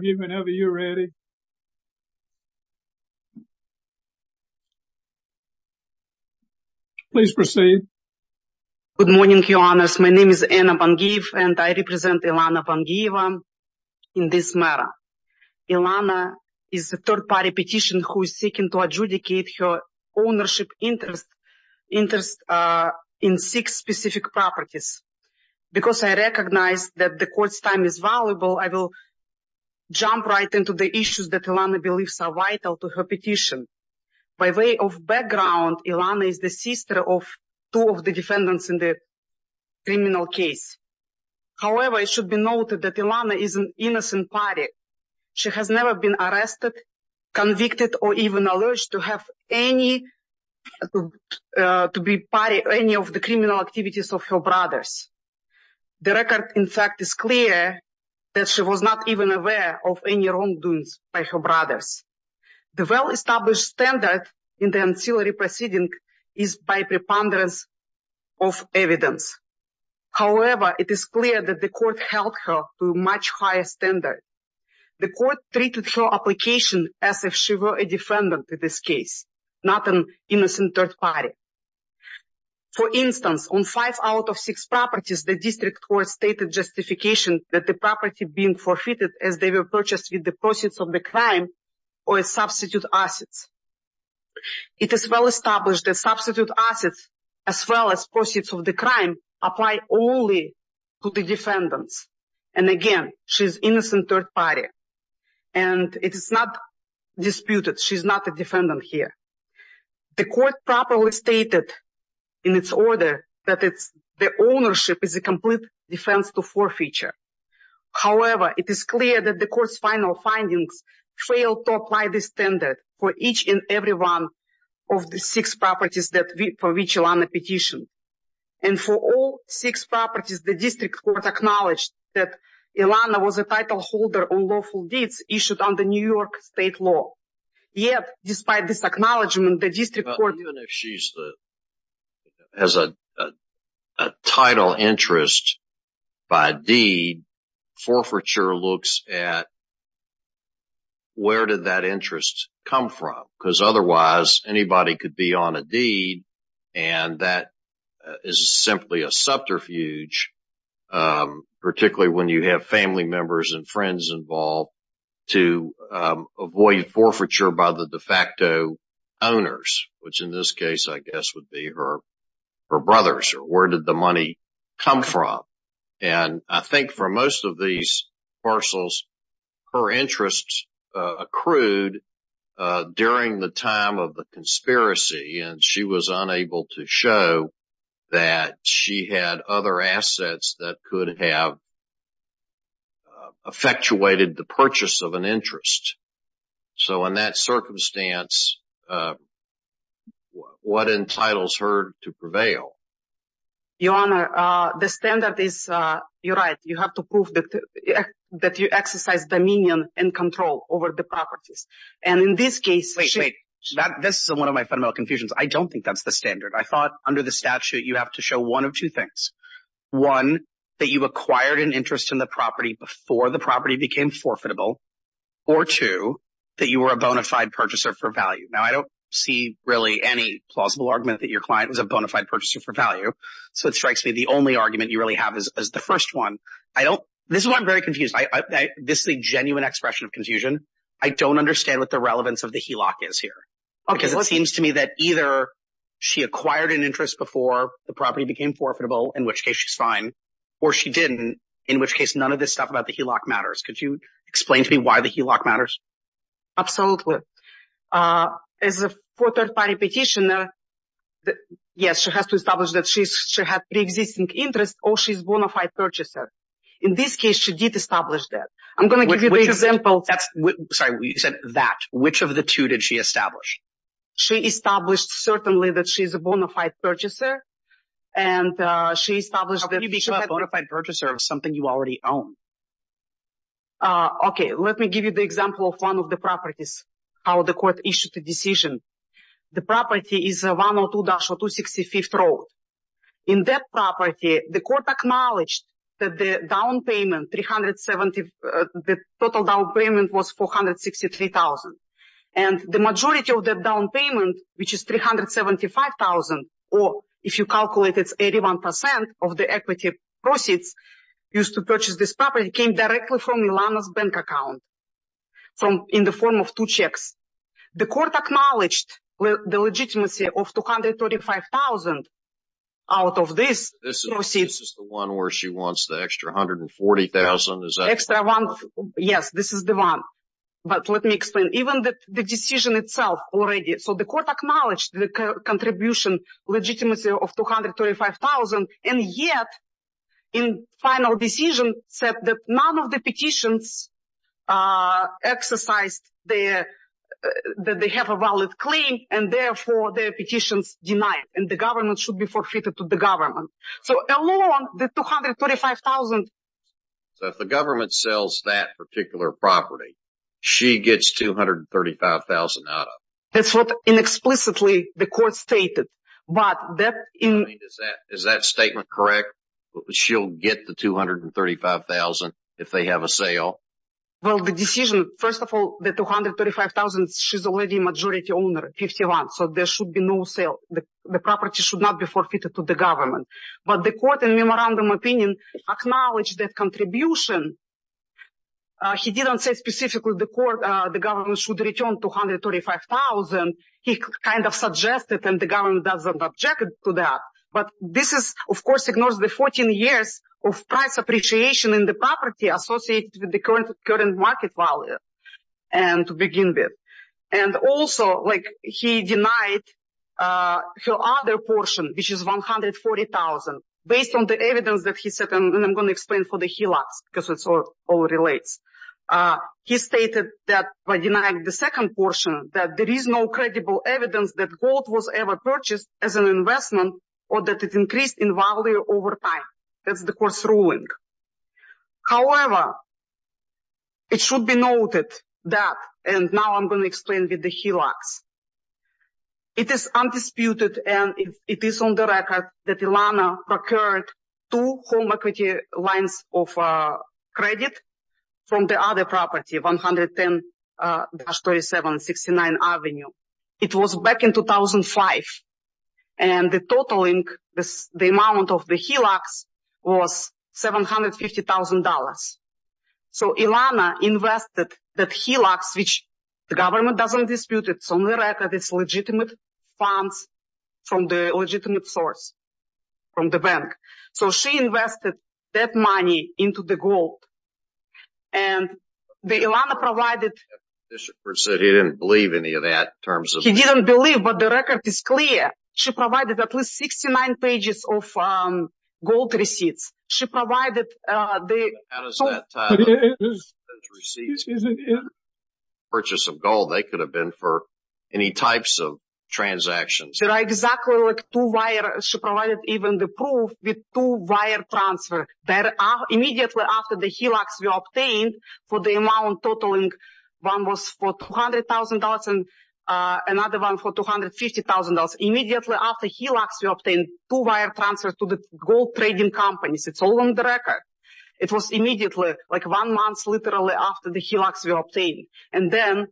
Good morning, Your Honors. My name is Anna Bangiyeva, and I represent Ilana Bangiyeva in this matter. Ilana is a third-party petitioner who is seeking to adjudicate her ownership interest in six specific properties. Because I recognize that the court's time is valuable, I will jump right into the issues that Ilana believes are vital to her petition. By way of background, Ilana is the sister of two of the defendants in the criminal case. However, it should be noted that Ilana is an innocent party. She has never been arrested, convicted, or even alleged to be part of any of the criminal activities of her brothers. The record, in fact, is clear that she was not even aware of any wrongdoings by her brothers. The well-established standard in the ancillary proceeding is by preponderance of evidence. However, it is clear that the court held her to a much higher standard. The court treated her application as if she were a defendant in this case, not an innocent third party. For instance, on five out of six properties, the district court stated justification that the property being forfeited as they were purchased with the proceeds of the crime or as substitute assets. It is well established that substitute assets, as well as proceeds of the crime, apply only to the defendants. Again, she is an innocent third party. The court properly stated in its order that the ownership is a complete defense to forfeiture. However, it is clear that the court's final findings failed to apply this standard for each and every one of the six properties for which Ilana petitioned. And for all six properties, the district court acknowledged that Ilana was a title holder on lawful deeds issued under New District Code. Even if she has a title interest by deed, forfeiture looks at where did that interest come from because otherwise anybody could be on a deed and that is simply a subterfuge, particularly when you have family members and friends involved, to avoid forfeiture by the de facto owners, which in this case I guess would be her brothers. Where did the money come from? And I think for most of these parcels, her interests accrued during the time of the conspiracy and she was unable to show that she had other assets that could have effectuated the purchase of an interest. So in that circumstance, what entitles her to prevail? Your Honor, the standard is, you're right, you have to prove that you exercise dominion and control over the properties. And in this case... This is one of my fundamental confusions. I don't think that's the standard. I thought you acquired an interest in the property before the property became forfeitable or two, that you were a bona fide purchaser for value. Now, I don't see really any plausible argument that your client was a bona fide purchaser for value. So it strikes me the only argument you really have is the first one. This is why I'm very confused. This is a genuine expression of confusion. I don't understand what the relevance of the HELOC is here because it seems to me that either she acquired an interest before the property became forfeitable, in which case she's or she didn't, in which case none of this stuff about the HELOC matters. Could you explain to me why the HELOC matters? Absolutely. As a third party petitioner, yes, she has to establish that she had pre-existing interest or she's a bona fide purchaser. In this case, she did establish that. I'm going to give you the example. Sorry, you said that. Which of the two did she establish? She established certainly that she's a bona fide purchaser and she established that she's a bona fide purchaser of something you already own. Okay, let me give you the example of one of the properties, how the court issued the decision. The property is 102-265th Road. In that property, the court acknowledged that the down payment, the total down payment was $463,000. And the majority of the down payment, which is $375,000, or if you calculate, it's 81% of the equity proceeds used to purchase this property, came directly from Ilana's bank account in the form of two checks. The court acknowledged the legitimacy of $235,000 out of this. This is the one where she wants the extra $140,000? Yes, this is the one. But let me explain. Even the decision itself already, so the court acknowledged the contribution legitimacy of $235,000, and yet in final decision said that none of the petitions exercised that they have a valid claim and therefore their petitions denied and the government should be forfeited to the government. So along the $235,000... So if the government sells that particular property, she gets $235,000 out of it. That's what inexplicably the court stated. But that... Is that statement correct? She'll get the $235,000 if they have a sale? Well, the decision... First of all, the $235,000, she's already a majority owner, 51%. So there should be no sale. The property should not be forfeited to the government. But the court, in memorandum opinion, acknowledged that contribution. He didn't say specifically the government should return $235,000. He kind of suggested and the government doesn't object to that. But this, of course, ignores the 14 years of price appreciation in the property associated with the current market value, to begin with. And also, he denied her other portion, which is $140,000, based on the evidence that he said, and I'm going to explain for the HELOCs, because it all relates. He stated that by denying the second portion, that there is no credible evidence that gold was ever purchased as an investment or that it increased in value over time. That's the court's ruling. However, it should be noted that, and now I'm going to explain with the HELOCs, it is undisputed and it is on the record that Ilana procured two home equity lines of credit from the other property, 110-3769 Avenue. It was back in 2005. And the totaling, the amount of the HELOCs was $750,000. So Ilana invested that HELOCs, which the government doesn't dispute, it's on the record, it's legitimate funds from the legitimate source, from the bank. So she invested that money into the gold. And Ilana provided... He didn't believe any of that in terms of... He didn't believe, but the record is clear. She provided at least 69 pages of gold receipts. She provided the... Purchase of gold, they could have been for any types of transactions. There are exactly two wire... She provided even the proof with two wire transfer. There are... Immediately after the HELOCs were obtained for the amount totaling, one was for $200,000 and another one for $250,000. Immediately after HELOCs were obtained, two wire transfer to the gold trading companies. It's all on the record. It was immediately, like one month literally after the HELOCs were obtained. And then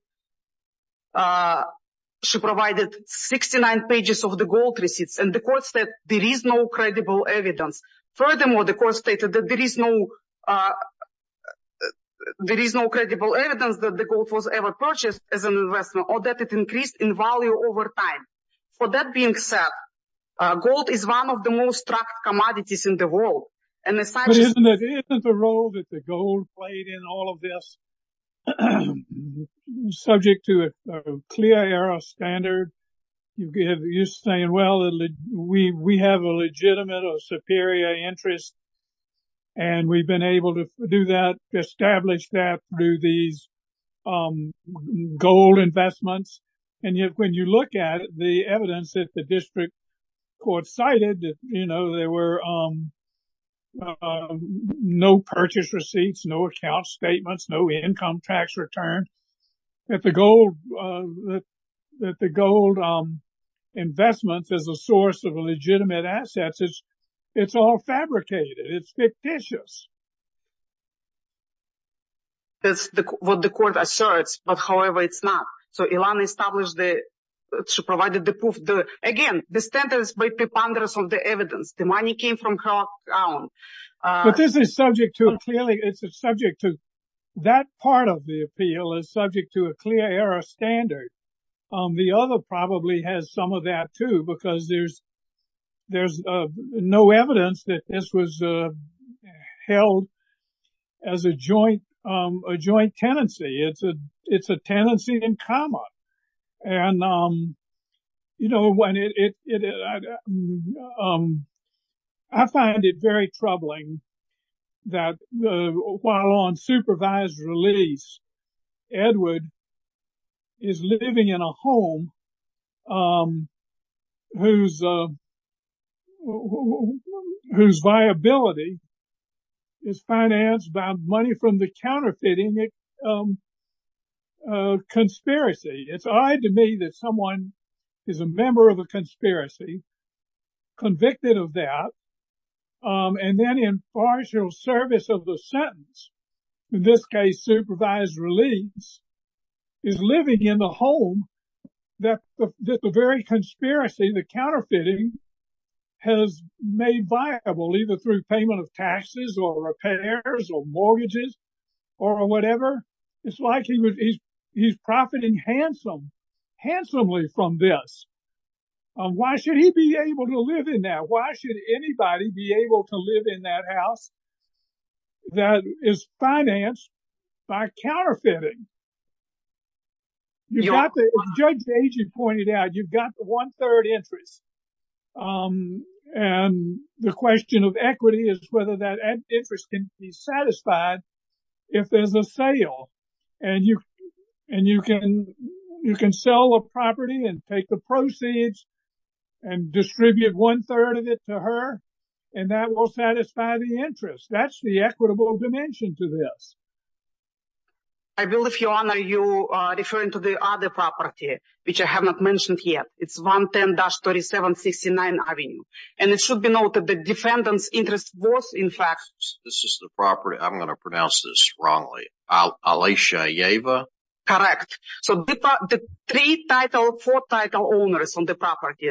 she provided 69 pages of the gold receipts. And the court said there is no credible evidence. Furthermore, the court stated that there is no... There is no credible evidence that the gold was ever purchased as an investment or that it increased in value over time. For that being said, gold is one of the most tracked commodities in the world. And the fact... Isn't the role that the gold played in all of this a... Subject to a clear era standard. You're saying, well, we have a legitimate or superior interest. And we've been able to do that, establish that through these gold investments. And yet when you look at the evidence that the district court cited, you know, there were no... No purchase receipts, no account statements, no income tax return. That the gold investments is a source of legitimate assets. It's all fabricated. It's fictitious. That's what the court asserts. But however, it's not. So Ilana established the... She provided again the standards by preponderance of the evidence. The money came from her account. But this is subject to a clearly... It's a subject to... That part of the appeal is subject to a clear era standard. The other probably has some of that too, because there's no evidence that this was held as a joint tenancy. It's a tenancy in common. And, you know, when it... I find it very troubling that while on supervised release, Edward is living in a home whose viability is financed by money from the counterfeiting conspiracy. It's odd to me that someone is a member of a conspiracy, convicted of that, and then in partial service of the sentence, in this case, supervised release, is living in the home that the very conspiracy, the counterfeiting, has made viable, either through payment of taxes or repairs or mortgages or whatever. It's like he's profiting handsomely from this. Why should he be able to live in that? Why should anybody be able to live in that house that is financed by counterfeiting? You've got the... As Judge Agee pointed out, you've got the one-third interest. And the question of equity is whether that interest can be satisfied if there's a sale. And you can sell a property and take the proceeds and distribute one-third of it to her, and that will satisfy the interest. That's the equitable dimension to this. I believe, Your Honor, you are referring to the other property, which I have not mentioned yet. It's 110-3769 Avenue. And it should be noted that the defendant's interest was, in fact... This is the property. I'm going to pronounce this wrongly. Alaysia Yeva? Correct. So the three-title, four-title owners on the property.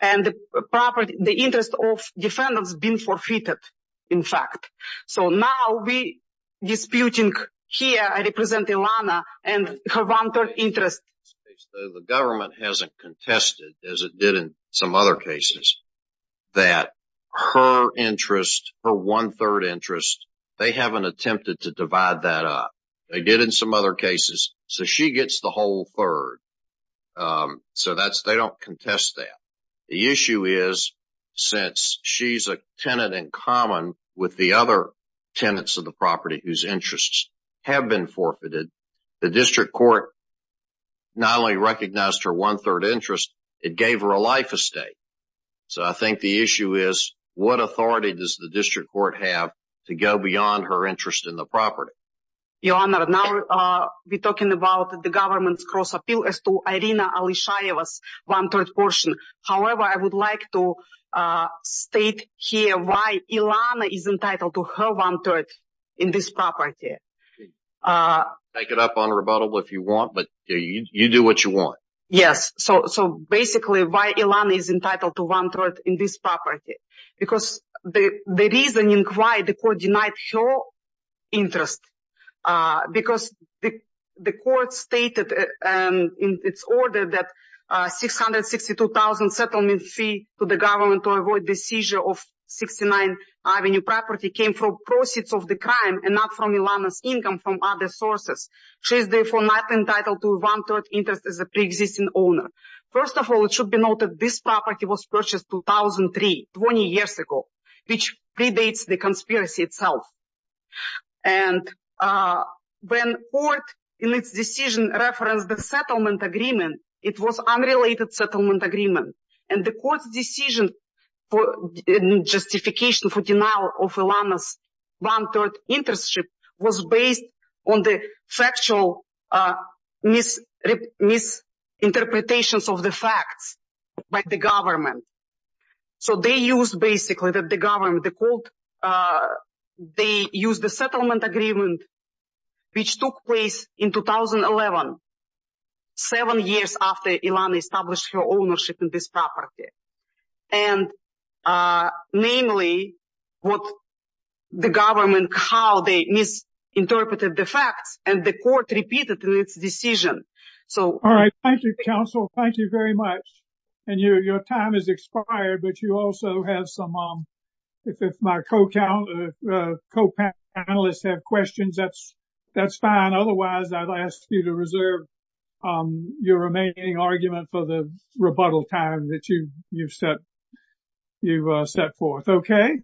And the property, the interest of defendants has been forfeited, in fact. So now we are disputing here, I represent Ilana, and her one-third interest. The government hasn't contested, as it did in some other cases, that her interest, her one-third interest, they haven't attempted to divide that up. They did in some other cases. So she gets the whole third. So they don't contest that. The issue is, since she's a tenant in common with the other tenants of the property whose interests have been forfeited, the district court not only recognized her one-third interest, it gave her a life estate. So I think the issue is, what authority does the district court have to go beyond her interest in the property? Your Honor, now we're talking about the government's cross-appeal as to Irina Alaysia Yeva's one-third portion. However, I would like to state here why Ilana is entitled to her one-third in this property. Take it up on rebuttal if you want, but you do what you want. Yes. So basically, why Ilana is entitled to one-third in this property? Because the reasoning why the court denied her interest, because the court stated in its order that $662,000 settlement fee to the government to avoid the seizure of 69th Avenue property came from proceeds of the crime and not from Ilana's income from other sources. She is therefore not entitled to one-third interest as a pre-existing owner. First of all, it should be noted this property was purchased 2003, 20 years ago, which predates the conspiracy itself. And when court in its decision referenced the settlement agreement, it was unrelated settlement agreement. And the court's decision for justification for denial of Ilana's one-third interest was based on the factual misinterpretations of the facts by the government. So they used basically that the government, the court, they used the settlement agreement which took place in 2011, seven years after Ilana established her ownership in this property. And namely, what the government, how they misinterpreted the facts, and the court repeated in its decision. All right. Thank you, counsel. Thank you very much. And your time has expired, but you also have some, if my co-panelists have questions, that's fine. Otherwise, I'll ask you to reserve your remaining argument for the rebuttal time that you've set forth. Okay?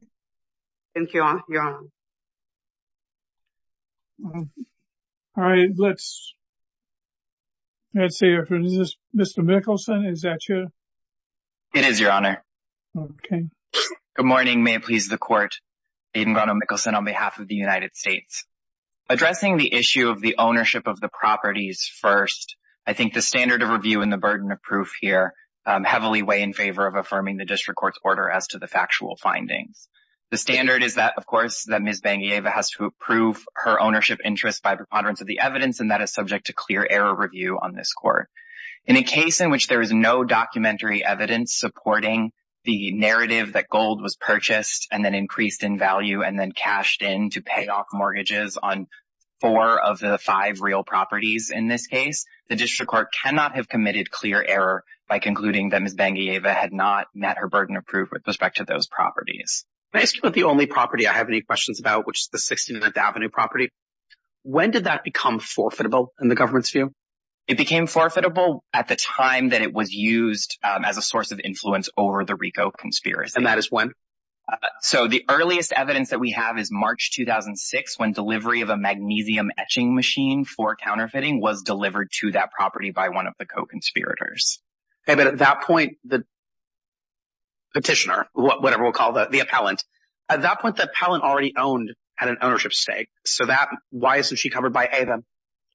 Thank you, Your Honor. All right. Let's see. Is this Mr. Mickelson? Is that you? It is, Your Honor. Okay. Good morning. May it please the court. Aidan Rono-Mickelson on behalf of the United States. Addressing the issue of the ownership of the properties first, I think the standard of review and the burden of proof here heavily weigh in favor of affirming the district court's order as to the factual findings. The standard is that, of course, that Ms. Bengeyeva has to approve her ownership interest by preponderance of the evidence, and that is subject to clear error review on this court. In a case in which there is no documentary evidence supporting the narrative that gold was purchased and then increased in value and then cashed in to pay off mortgages on four of the five real properties in this case, the district court cannot have committed clear error by concluding that Ms. Bengeyeva had not met her burden of proof with respect to those properties. May I ask you about the only property I have any questions about, which is the 16th Avenue property? When did that become forfeitable in the government's view? It became forfeitable at the time that it was used as a source of influence over the Rico conspiracy. And that is when? So the earliest evidence that we have is March 2006, when delivery of a magnesium etching machine for counterfeiting was delivered to that property by one of the co-conspirators. Okay, but at that point, the petitioner, whatever we'll call the appellant, at that point, the appellant already owned, had an ownership stake. So that, why isn't she covered by AVEN?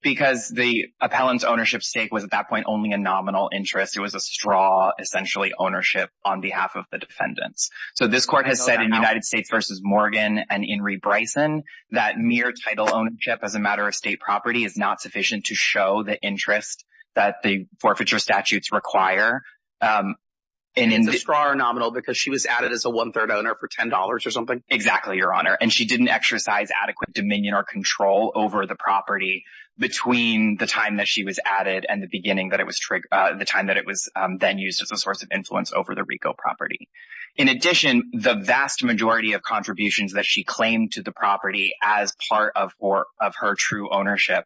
Because the appellant's ownership stake was at that point only a nominal interest. It was a straw, essentially, ownership on behalf of the defendants. So this court has said in United States v. Morgan and Inree Bryson that mere title ownership as a matter of state property is not sufficient to show the interest that the forfeiture statutes require. And it's a straw or nominal because she was added as a one-third owner for $10 or something? Exactly, Your Honor. And she didn't exercise adequate dominion or control over the property between the time that she was added and the beginning that it was triggered, the time that it was then used as a source of influence over the Rico property. In addition, the vast majority of contributions that she claimed to the property as part of her true ownership,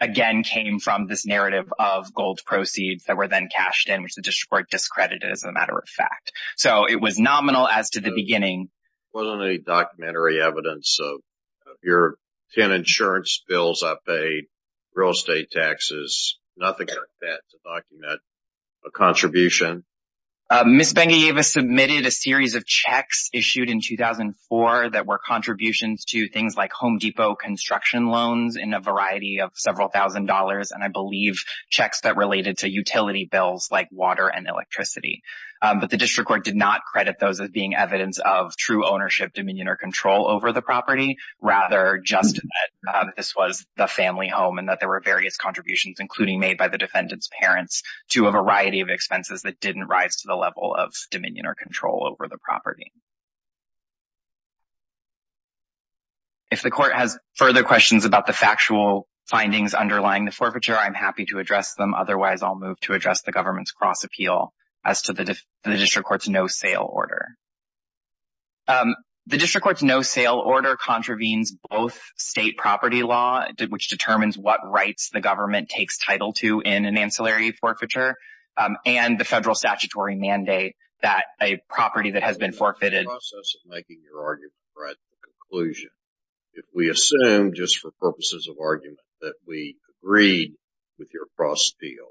again, came from this narrative of gold proceeds that were then cashed in, which the district court discredited as a matter of fact. So it was nominal as to the beginning. Wasn't any documentary evidence of your pen insurance bills, I paid real estate taxes, nothing like that to document a contribution? Ms. Bengayava submitted a series of checks issued in 2004 that were contributions to things like construction loans in a variety of several thousand dollars, and I believe checks that related to utility bills like water and electricity. But the district court did not credit those as being evidence of true ownership, dominion or control over the property, rather just this was the family home and that there were various contributions, including made by the defendant's parents to a variety of expenses that didn't rise to the level of dominion or control. If the court has further questions about the factual findings underlying the forfeiture, I'm happy to address them. Otherwise, I'll move to address the government's cross appeal as to the district court's no-sale order. The district court's no-sale order contravenes both state property law, which determines what rights the government takes title to in an ancillary forfeiture, and the federal statutory mandate that a property that has been forfeited making your argument right to the conclusion. If we assume, just for purposes of argument, that we agreed with your cross appeal,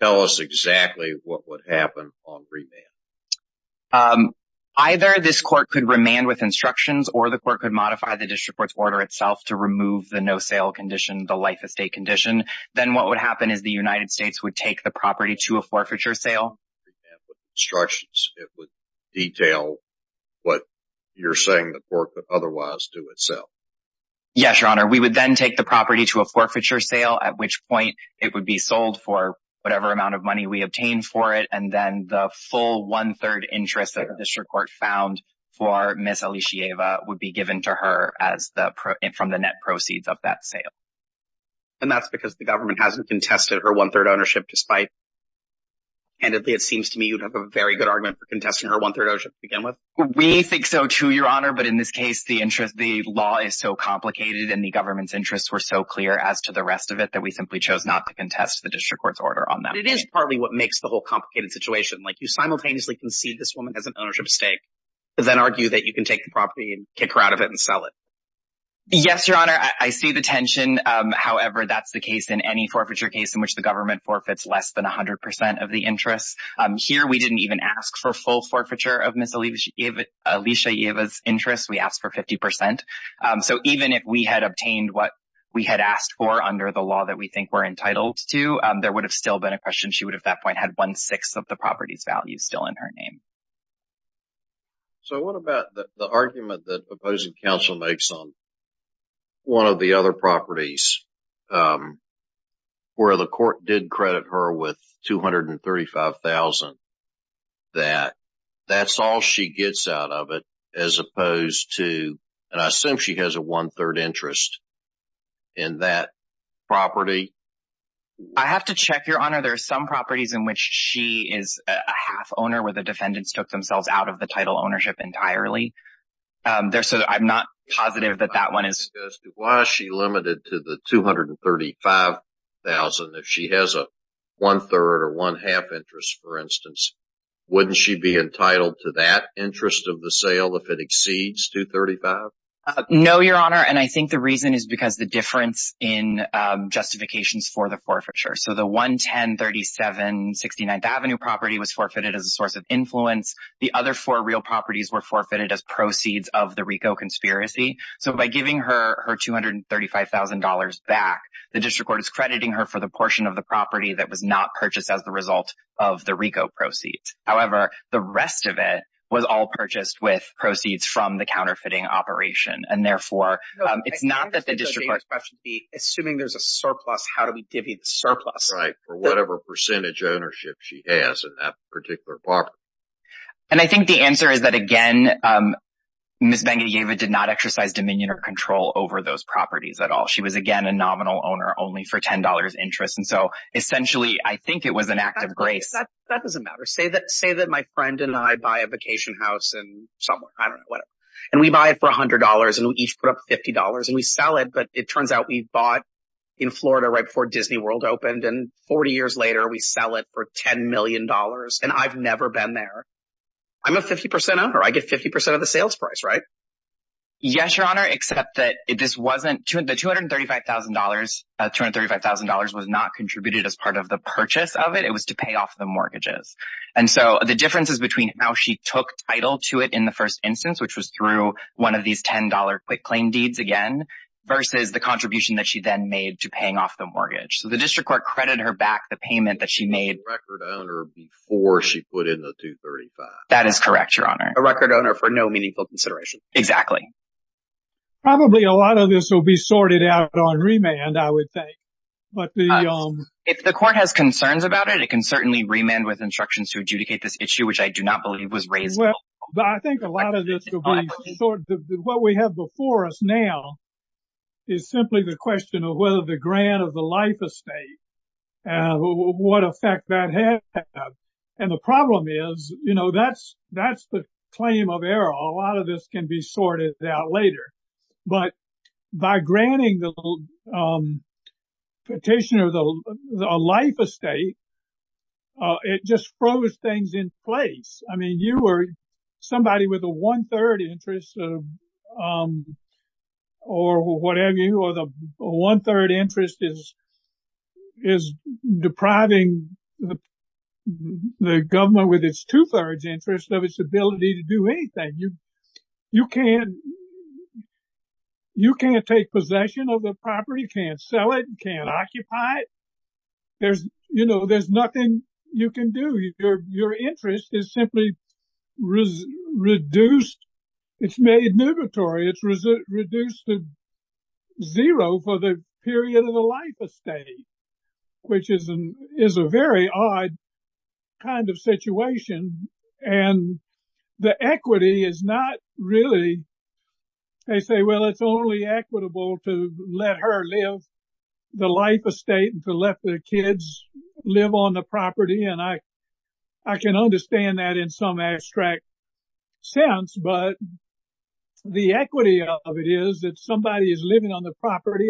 tell us exactly what would happen on remand. Either this court could remand with instructions or the court could modify the district court's order itself to remove the no-sale condition, the life estate condition. Then what would happen is the United States would take the property to a forfeiture sale. Remand with instructions. It would detail what you're saying the court would otherwise do itself. Yes, Your Honor. We would then take the property to a forfeiture sale, at which point it would be sold for whatever amount of money we obtained for it, and then the full one-third interest that the district court found for Ms. Alicieva would be given to her from the net proceeds of that sale. And that's because the government hasn't contested her one-third ownership, despite, candidly it seems to me, you'd have a very good argument for contesting her one-third ownership to begin with. We think so, too, Your Honor. But in this case, the interest, the law is so complicated and the government's interests were so clear as to the rest of it that we simply chose not to contest the district court's order on that. It is partly what makes the whole complicated situation. Like, you simultaneously concede this woman has an ownership stake, but then argue that you can take the property and kick her out of it and sell it. Yes, Your Honor. I see the tension. However, that's the case in any forfeiture case in which the government forfeits less than 100 percent of the interest. Here, we didn't even ask for full forfeiture of Ms. Alicieva's interest. We asked for 50 percent. So, even if we had obtained what we had asked for under the law that we think we're entitled to, there would have still been a question. She would have, at that point, had one-sixth of the property's value still in her name. So, what about the argument that opposing counsel makes on one of the other properties where the court did credit her with $235,000 that that's all she gets out of it as opposed to, and I assume she has a one-third interest in that property? I have to check, Your Honor. There are some properties in which she is a half owner where the defendants took themselves out of the title ownership entirely. So, I'm not positive that that one is... Why is she limited to the $235,000 if she has a one-third or one-half interest, for instance? Wouldn't she be entitled to that interest of the sale if it exceeds $235,000? No, Your Honor, and I think the reason is because the difference in justifications for the forfeiture. So, the 11037 69th Avenue property was forfeited as a source of influence. The other four real properties were forfeited as proceeds of the RICO conspiracy. So, by giving her her $235,000 back, the district court is crediting her for the portion of the property that was not purchased as the result of the RICO proceeds. However, the rest of it was all purchased with proceeds from the counterfeiting operation, and therefore, it's not that the district court... Assuming there's a surplus, how do we divvy the surplus? Right. Or whatever percentage ownership she has in that particular property. And I think the answer is that, again, Ms. Vangieva did not exercise dominion or control over those properties at all. She was, again, a nominal owner only for $10 interest. And so, essentially, I think it was an act of grace. That doesn't matter. Say that my friend and I buy a vacation house in somewhere. I don't know, whatever. And we buy it for $100, and we each put up $50, and we sell it. But it turns out we bought in Florida right before Disney World opened, and 40 years later, we sell it for $10 million, and I've never been there. I'm a 50% owner. I get 50% of the sales price, right? Yes, Your Honor, except that this wasn't... The $235,000 was not contributed as part of the purchase of it. It was to pay off the mortgages. And so, the differences between how she took title to it in the first instance, which was through one of these $10 quick claim deeds again, versus the contribution that she then made to paying off the mortgage. So, the district court credited her back the payment that she made... A record owner before she put in the $235,000. That is correct, Your Honor. A record owner for no meaningful consideration. Exactly. Probably a lot of this will be sorted out on remand, I would think. But the... If the court has concerns about it, it can certainly remand with instructions to adjudicate this issue, which I do not believe was raised... I think a lot of this will be sorted. What we have before us now is simply the question of whether the grant of the life estate, what effect that had. And the problem is, you know, that's the claim of error. A lot of this can be sorted out later. But by granting the petitioner a life estate, it just froze things in place. I mean, you were somebody with a one-third interest or whatever, or the one-third interest is depriving the government with its two-thirds interest of its ability to do anything. You can't take possession of the property, can't sell it, can't occupy it. You know, there's nothing you can do. Your interest is simply reduced. It's made nootatory. It's reduced to zero for the period of the life estate, which is a very odd kind of situation. And the equity is not really... They say, well, it's only equitable to let her live the life estate and to let the kids live on the property. And I can understand that in some abstract sense. But the equity of it is that somebody is living on the property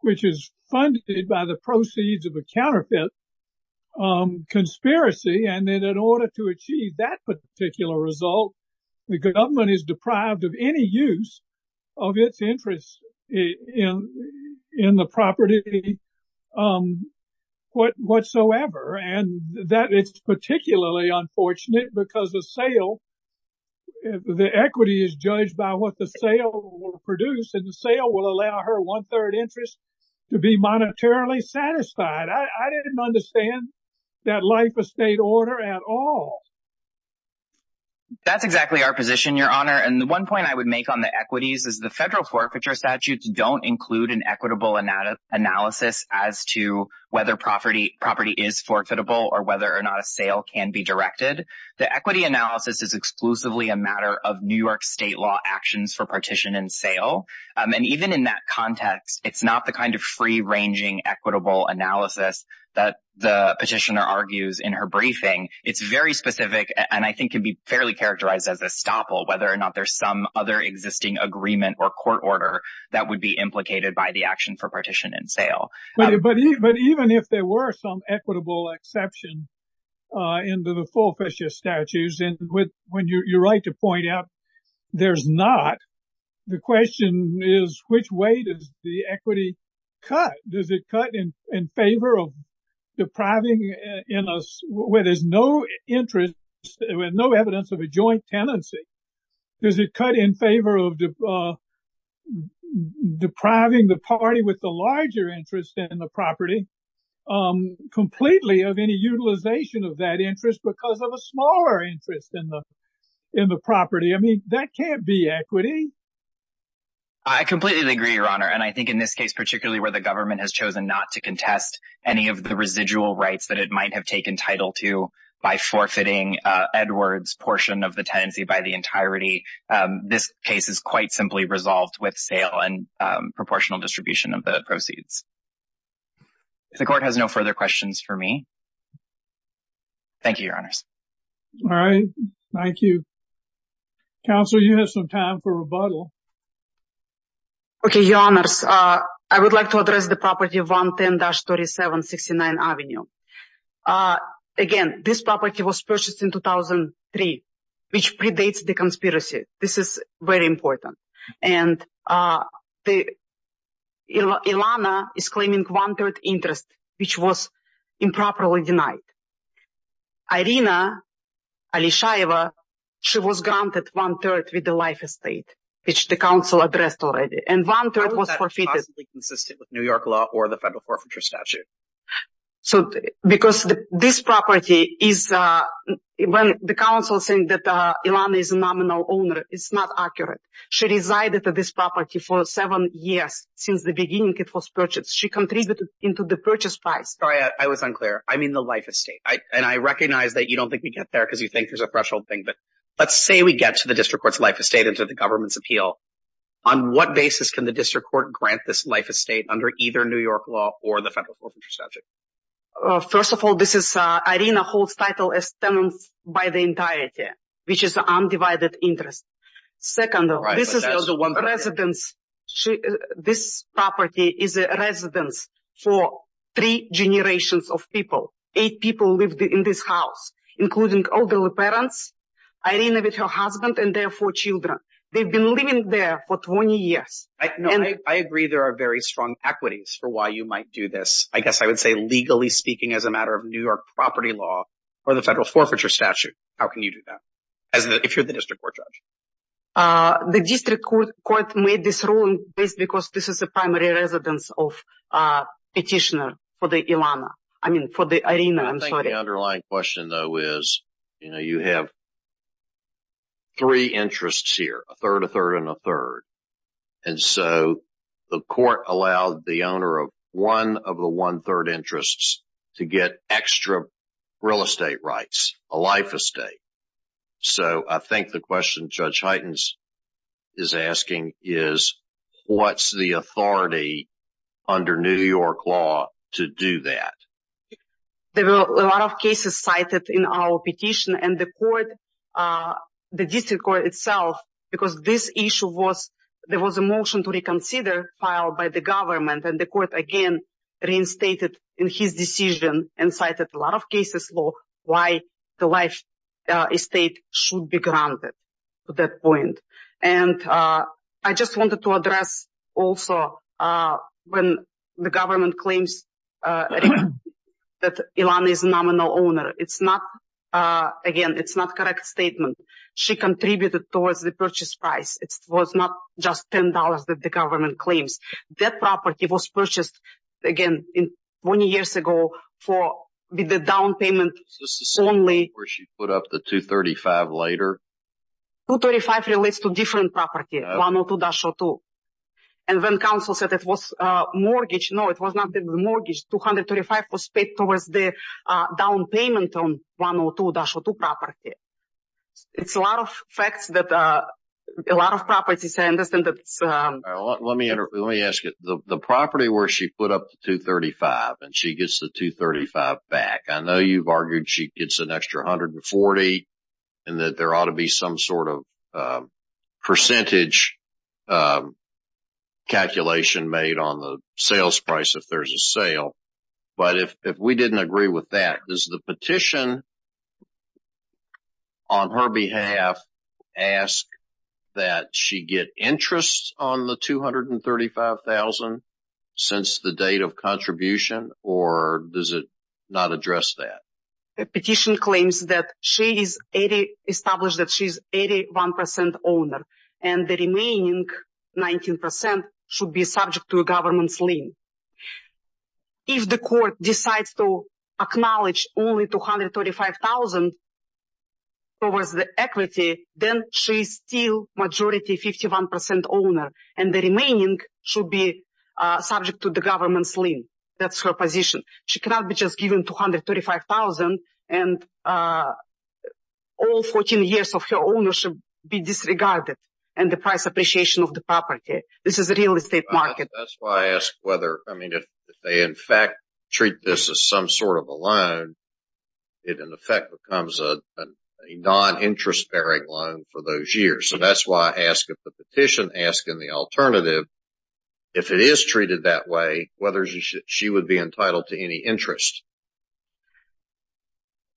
which is funded by the proceeds of a counterfeit conspiracy. And then in order to achieve that particular result, the government is deprived of any use of its interest in the property whatsoever. And that is particularly unfortunate because the sale, the equity is judged by what the sale will produce. And the sale will allow her one-third interest to be monetarily satisfied. I didn't understand that life estate order at all. That's exactly our position, Your Honor. And the one point I would make on the equities is the federal forfeiture statutes don't include an equitable analysis as to whether property is forfeitable or whether or not a sale can be directed. The equity analysis is exclusively a matter of New York state law actions for partition and sale. And even in that context, it's not the kind of free-ranging equitable analysis that the petitioner argues in her specific, and I think can be fairly characterized as a stopple, whether or not there's some other existing agreement or court order that would be implicated by the action for partition and sale. But even if there were some equitable exception into the forfeiture statutes, and when you're right to point out there's not, the question is which way does the equity cut? Does it cut in favor of depriving us where there's no evidence of a joint tenancy? Does it cut in favor of depriving the party with the larger interest in the property completely of any utilization of that interest because of a smaller interest in the property? I mean, that can't be equity. I completely agree, Your Honor. And I think in this case, particularly where the government has chosen not to contest any of the residual rights that it might have taken title to by forfeiting Edward's portion of the tenancy by the entirety, this case is quite simply resolved with sale and proportional distribution of the proceeds. If the court has no further questions for me, thank you, Your Honors. All right. Thank you. Counselor, you have some time for rebuttal. Okay, Your Honors. I would like to address the property of 110-3769 Avenue. Again, this property was purchased in 2003, which predates the conspiracy. This is very important. And Ilana is claiming one-third interest, which was improperly denied. Irina Alishaeva, she was granted one-third with the life estate, which the counsel addressed already. And one-third was forfeited. How is that possibly consistent with New York law or the federal forfeiture statute? Because this property is, when the counsel saying that Ilana is a nominal owner, it's not accurate. She resided at this property for seven years. Since the beginning, it was purchased. She contributed into the purchase price. Sorry, I was unclear. I mean the life estate. And I recognize that you don't think we get there because you think there's a threshold thing. But let's say we get to the district court's life estate and to the government's appeal. On what basis can the district court grant this life estate under either New York law or the federal forfeiture statute? First of all, Irina holds title as tenants by the entirety, which is undivided interest. Second, this property is a residence for three generations of people. Eight people lived in this house, including elderly parents, Irina with her husband, and their four children. They've been living there for 20 years. I agree there are very strong equities for why you might do this. Legally speaking, as a matter of New York property law or the federal forfeiture statute, how can you do that if you're the district court judge? The district court made this ruling because this is a primary residence of a petitioner for the Ilana, I mean for the Irina, I'm sorry. I think the underlying question, though, is you have three interests here, a third, a third, and a third. And so the court allowed the owner one of the one-third interests to get extra real estate rights, a life estate. So I think the question Judge Hytens is asking is what's the authority under New York law to do that? There were a lot of cases cited in our petition, and the court, the district court itself, because this issue was, there was a motion to reconsider filed by the government, and the court again reinstated in his decision and cited a lot of cases for why the life estate should be granted to that point. And I just wanted to address also when the government claims that Ilana is a nominal owner, it's not, again, it's not correct statement. She contributed towards the purchase price. It was not just $10 that the government claims. That property was purchased, again, in 20 years ago for the down payment only. Where she put up the $235 later? $235 relates to different property, 102-02. And when counsel said it was mortgage, no, it was not the mortgage. $235 was paid towards the down payment on 102-02 property. It's a lot of facts that, a lot of properties, I understand that it's... Let me ask you, the property where she put up the $235 and she gets the $235 back, I know you've argued she gets an extra $140 and that there ought to be some sort of percentage calculation made on the sales price if there's a sale. But if we didn't agree with that, does the petition on her behalf ask that she get interest on the $235,000 since the date of contribution or does it not address that? The petition claims that she's established that she's 81% owner and the remaining 19% should be subject to a government's lien. If the court decides to acknowledge only $235,000 towards the equity, then she's still majority 51% owner and the remaining should be subject to the government's lien. That's her position. She cannot be just given $235,000 and all 14 years of her ownership be disregarded and the price appreciation of the property. This is a real estate market. That's why I ask whether, I mean, if they in fact treat this as some sort of a loan, it in effect becomes a non-interest-bearing loan for those years. So that's why I ask if the petition asking the alternative, if it is treated that way, whether she would be entitled to any interest.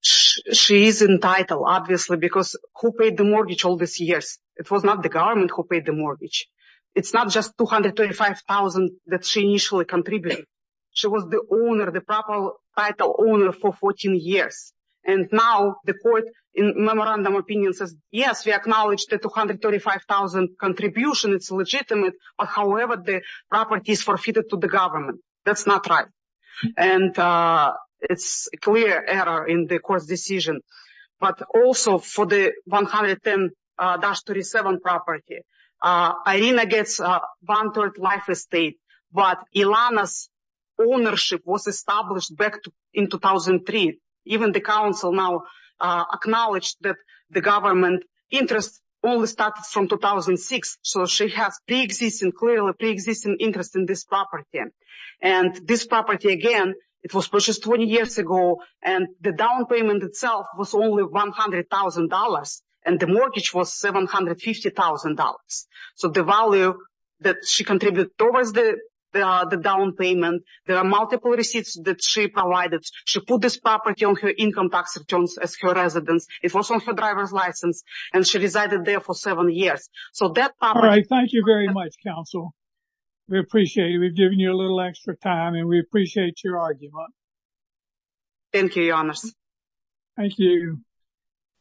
She is entitled, obviously, because who paid the mortgage all these years? It was not the government who paid the mortgage. It's not just $235,000 that she initially contributed. She was the owner, the proper title owner for 14 years. And now the court in memorandum opinion says, yes, we acknowledge the $235,000 contribution. It's legitimate. However, the property is forfeited to the government. That's not right. And it's a clear error in the court's decision. But also for the $110,000-$37,000 property, Irina gets one-third life estate. But Ilana's ownership was established back in 2003. Even the council now acknowledged that the government interest only started from 2006. So she has clearly pre-existing interest in this property. And this property, again, it was purchased 20 years ago. And the down payment itself was only $100,000. And the mortgage was $750,000. So the value that she contributed towards the down payment, there are multiple receipts that she provided. She put this property on her income tax returns as her residence. It was on her driver's license. And she resided there for seven years. So that property- All right. Thank you very much, counsel. We appreciate it. We've given you a little extra time and we appreciate your argument. Thank you, your honors. Thank you.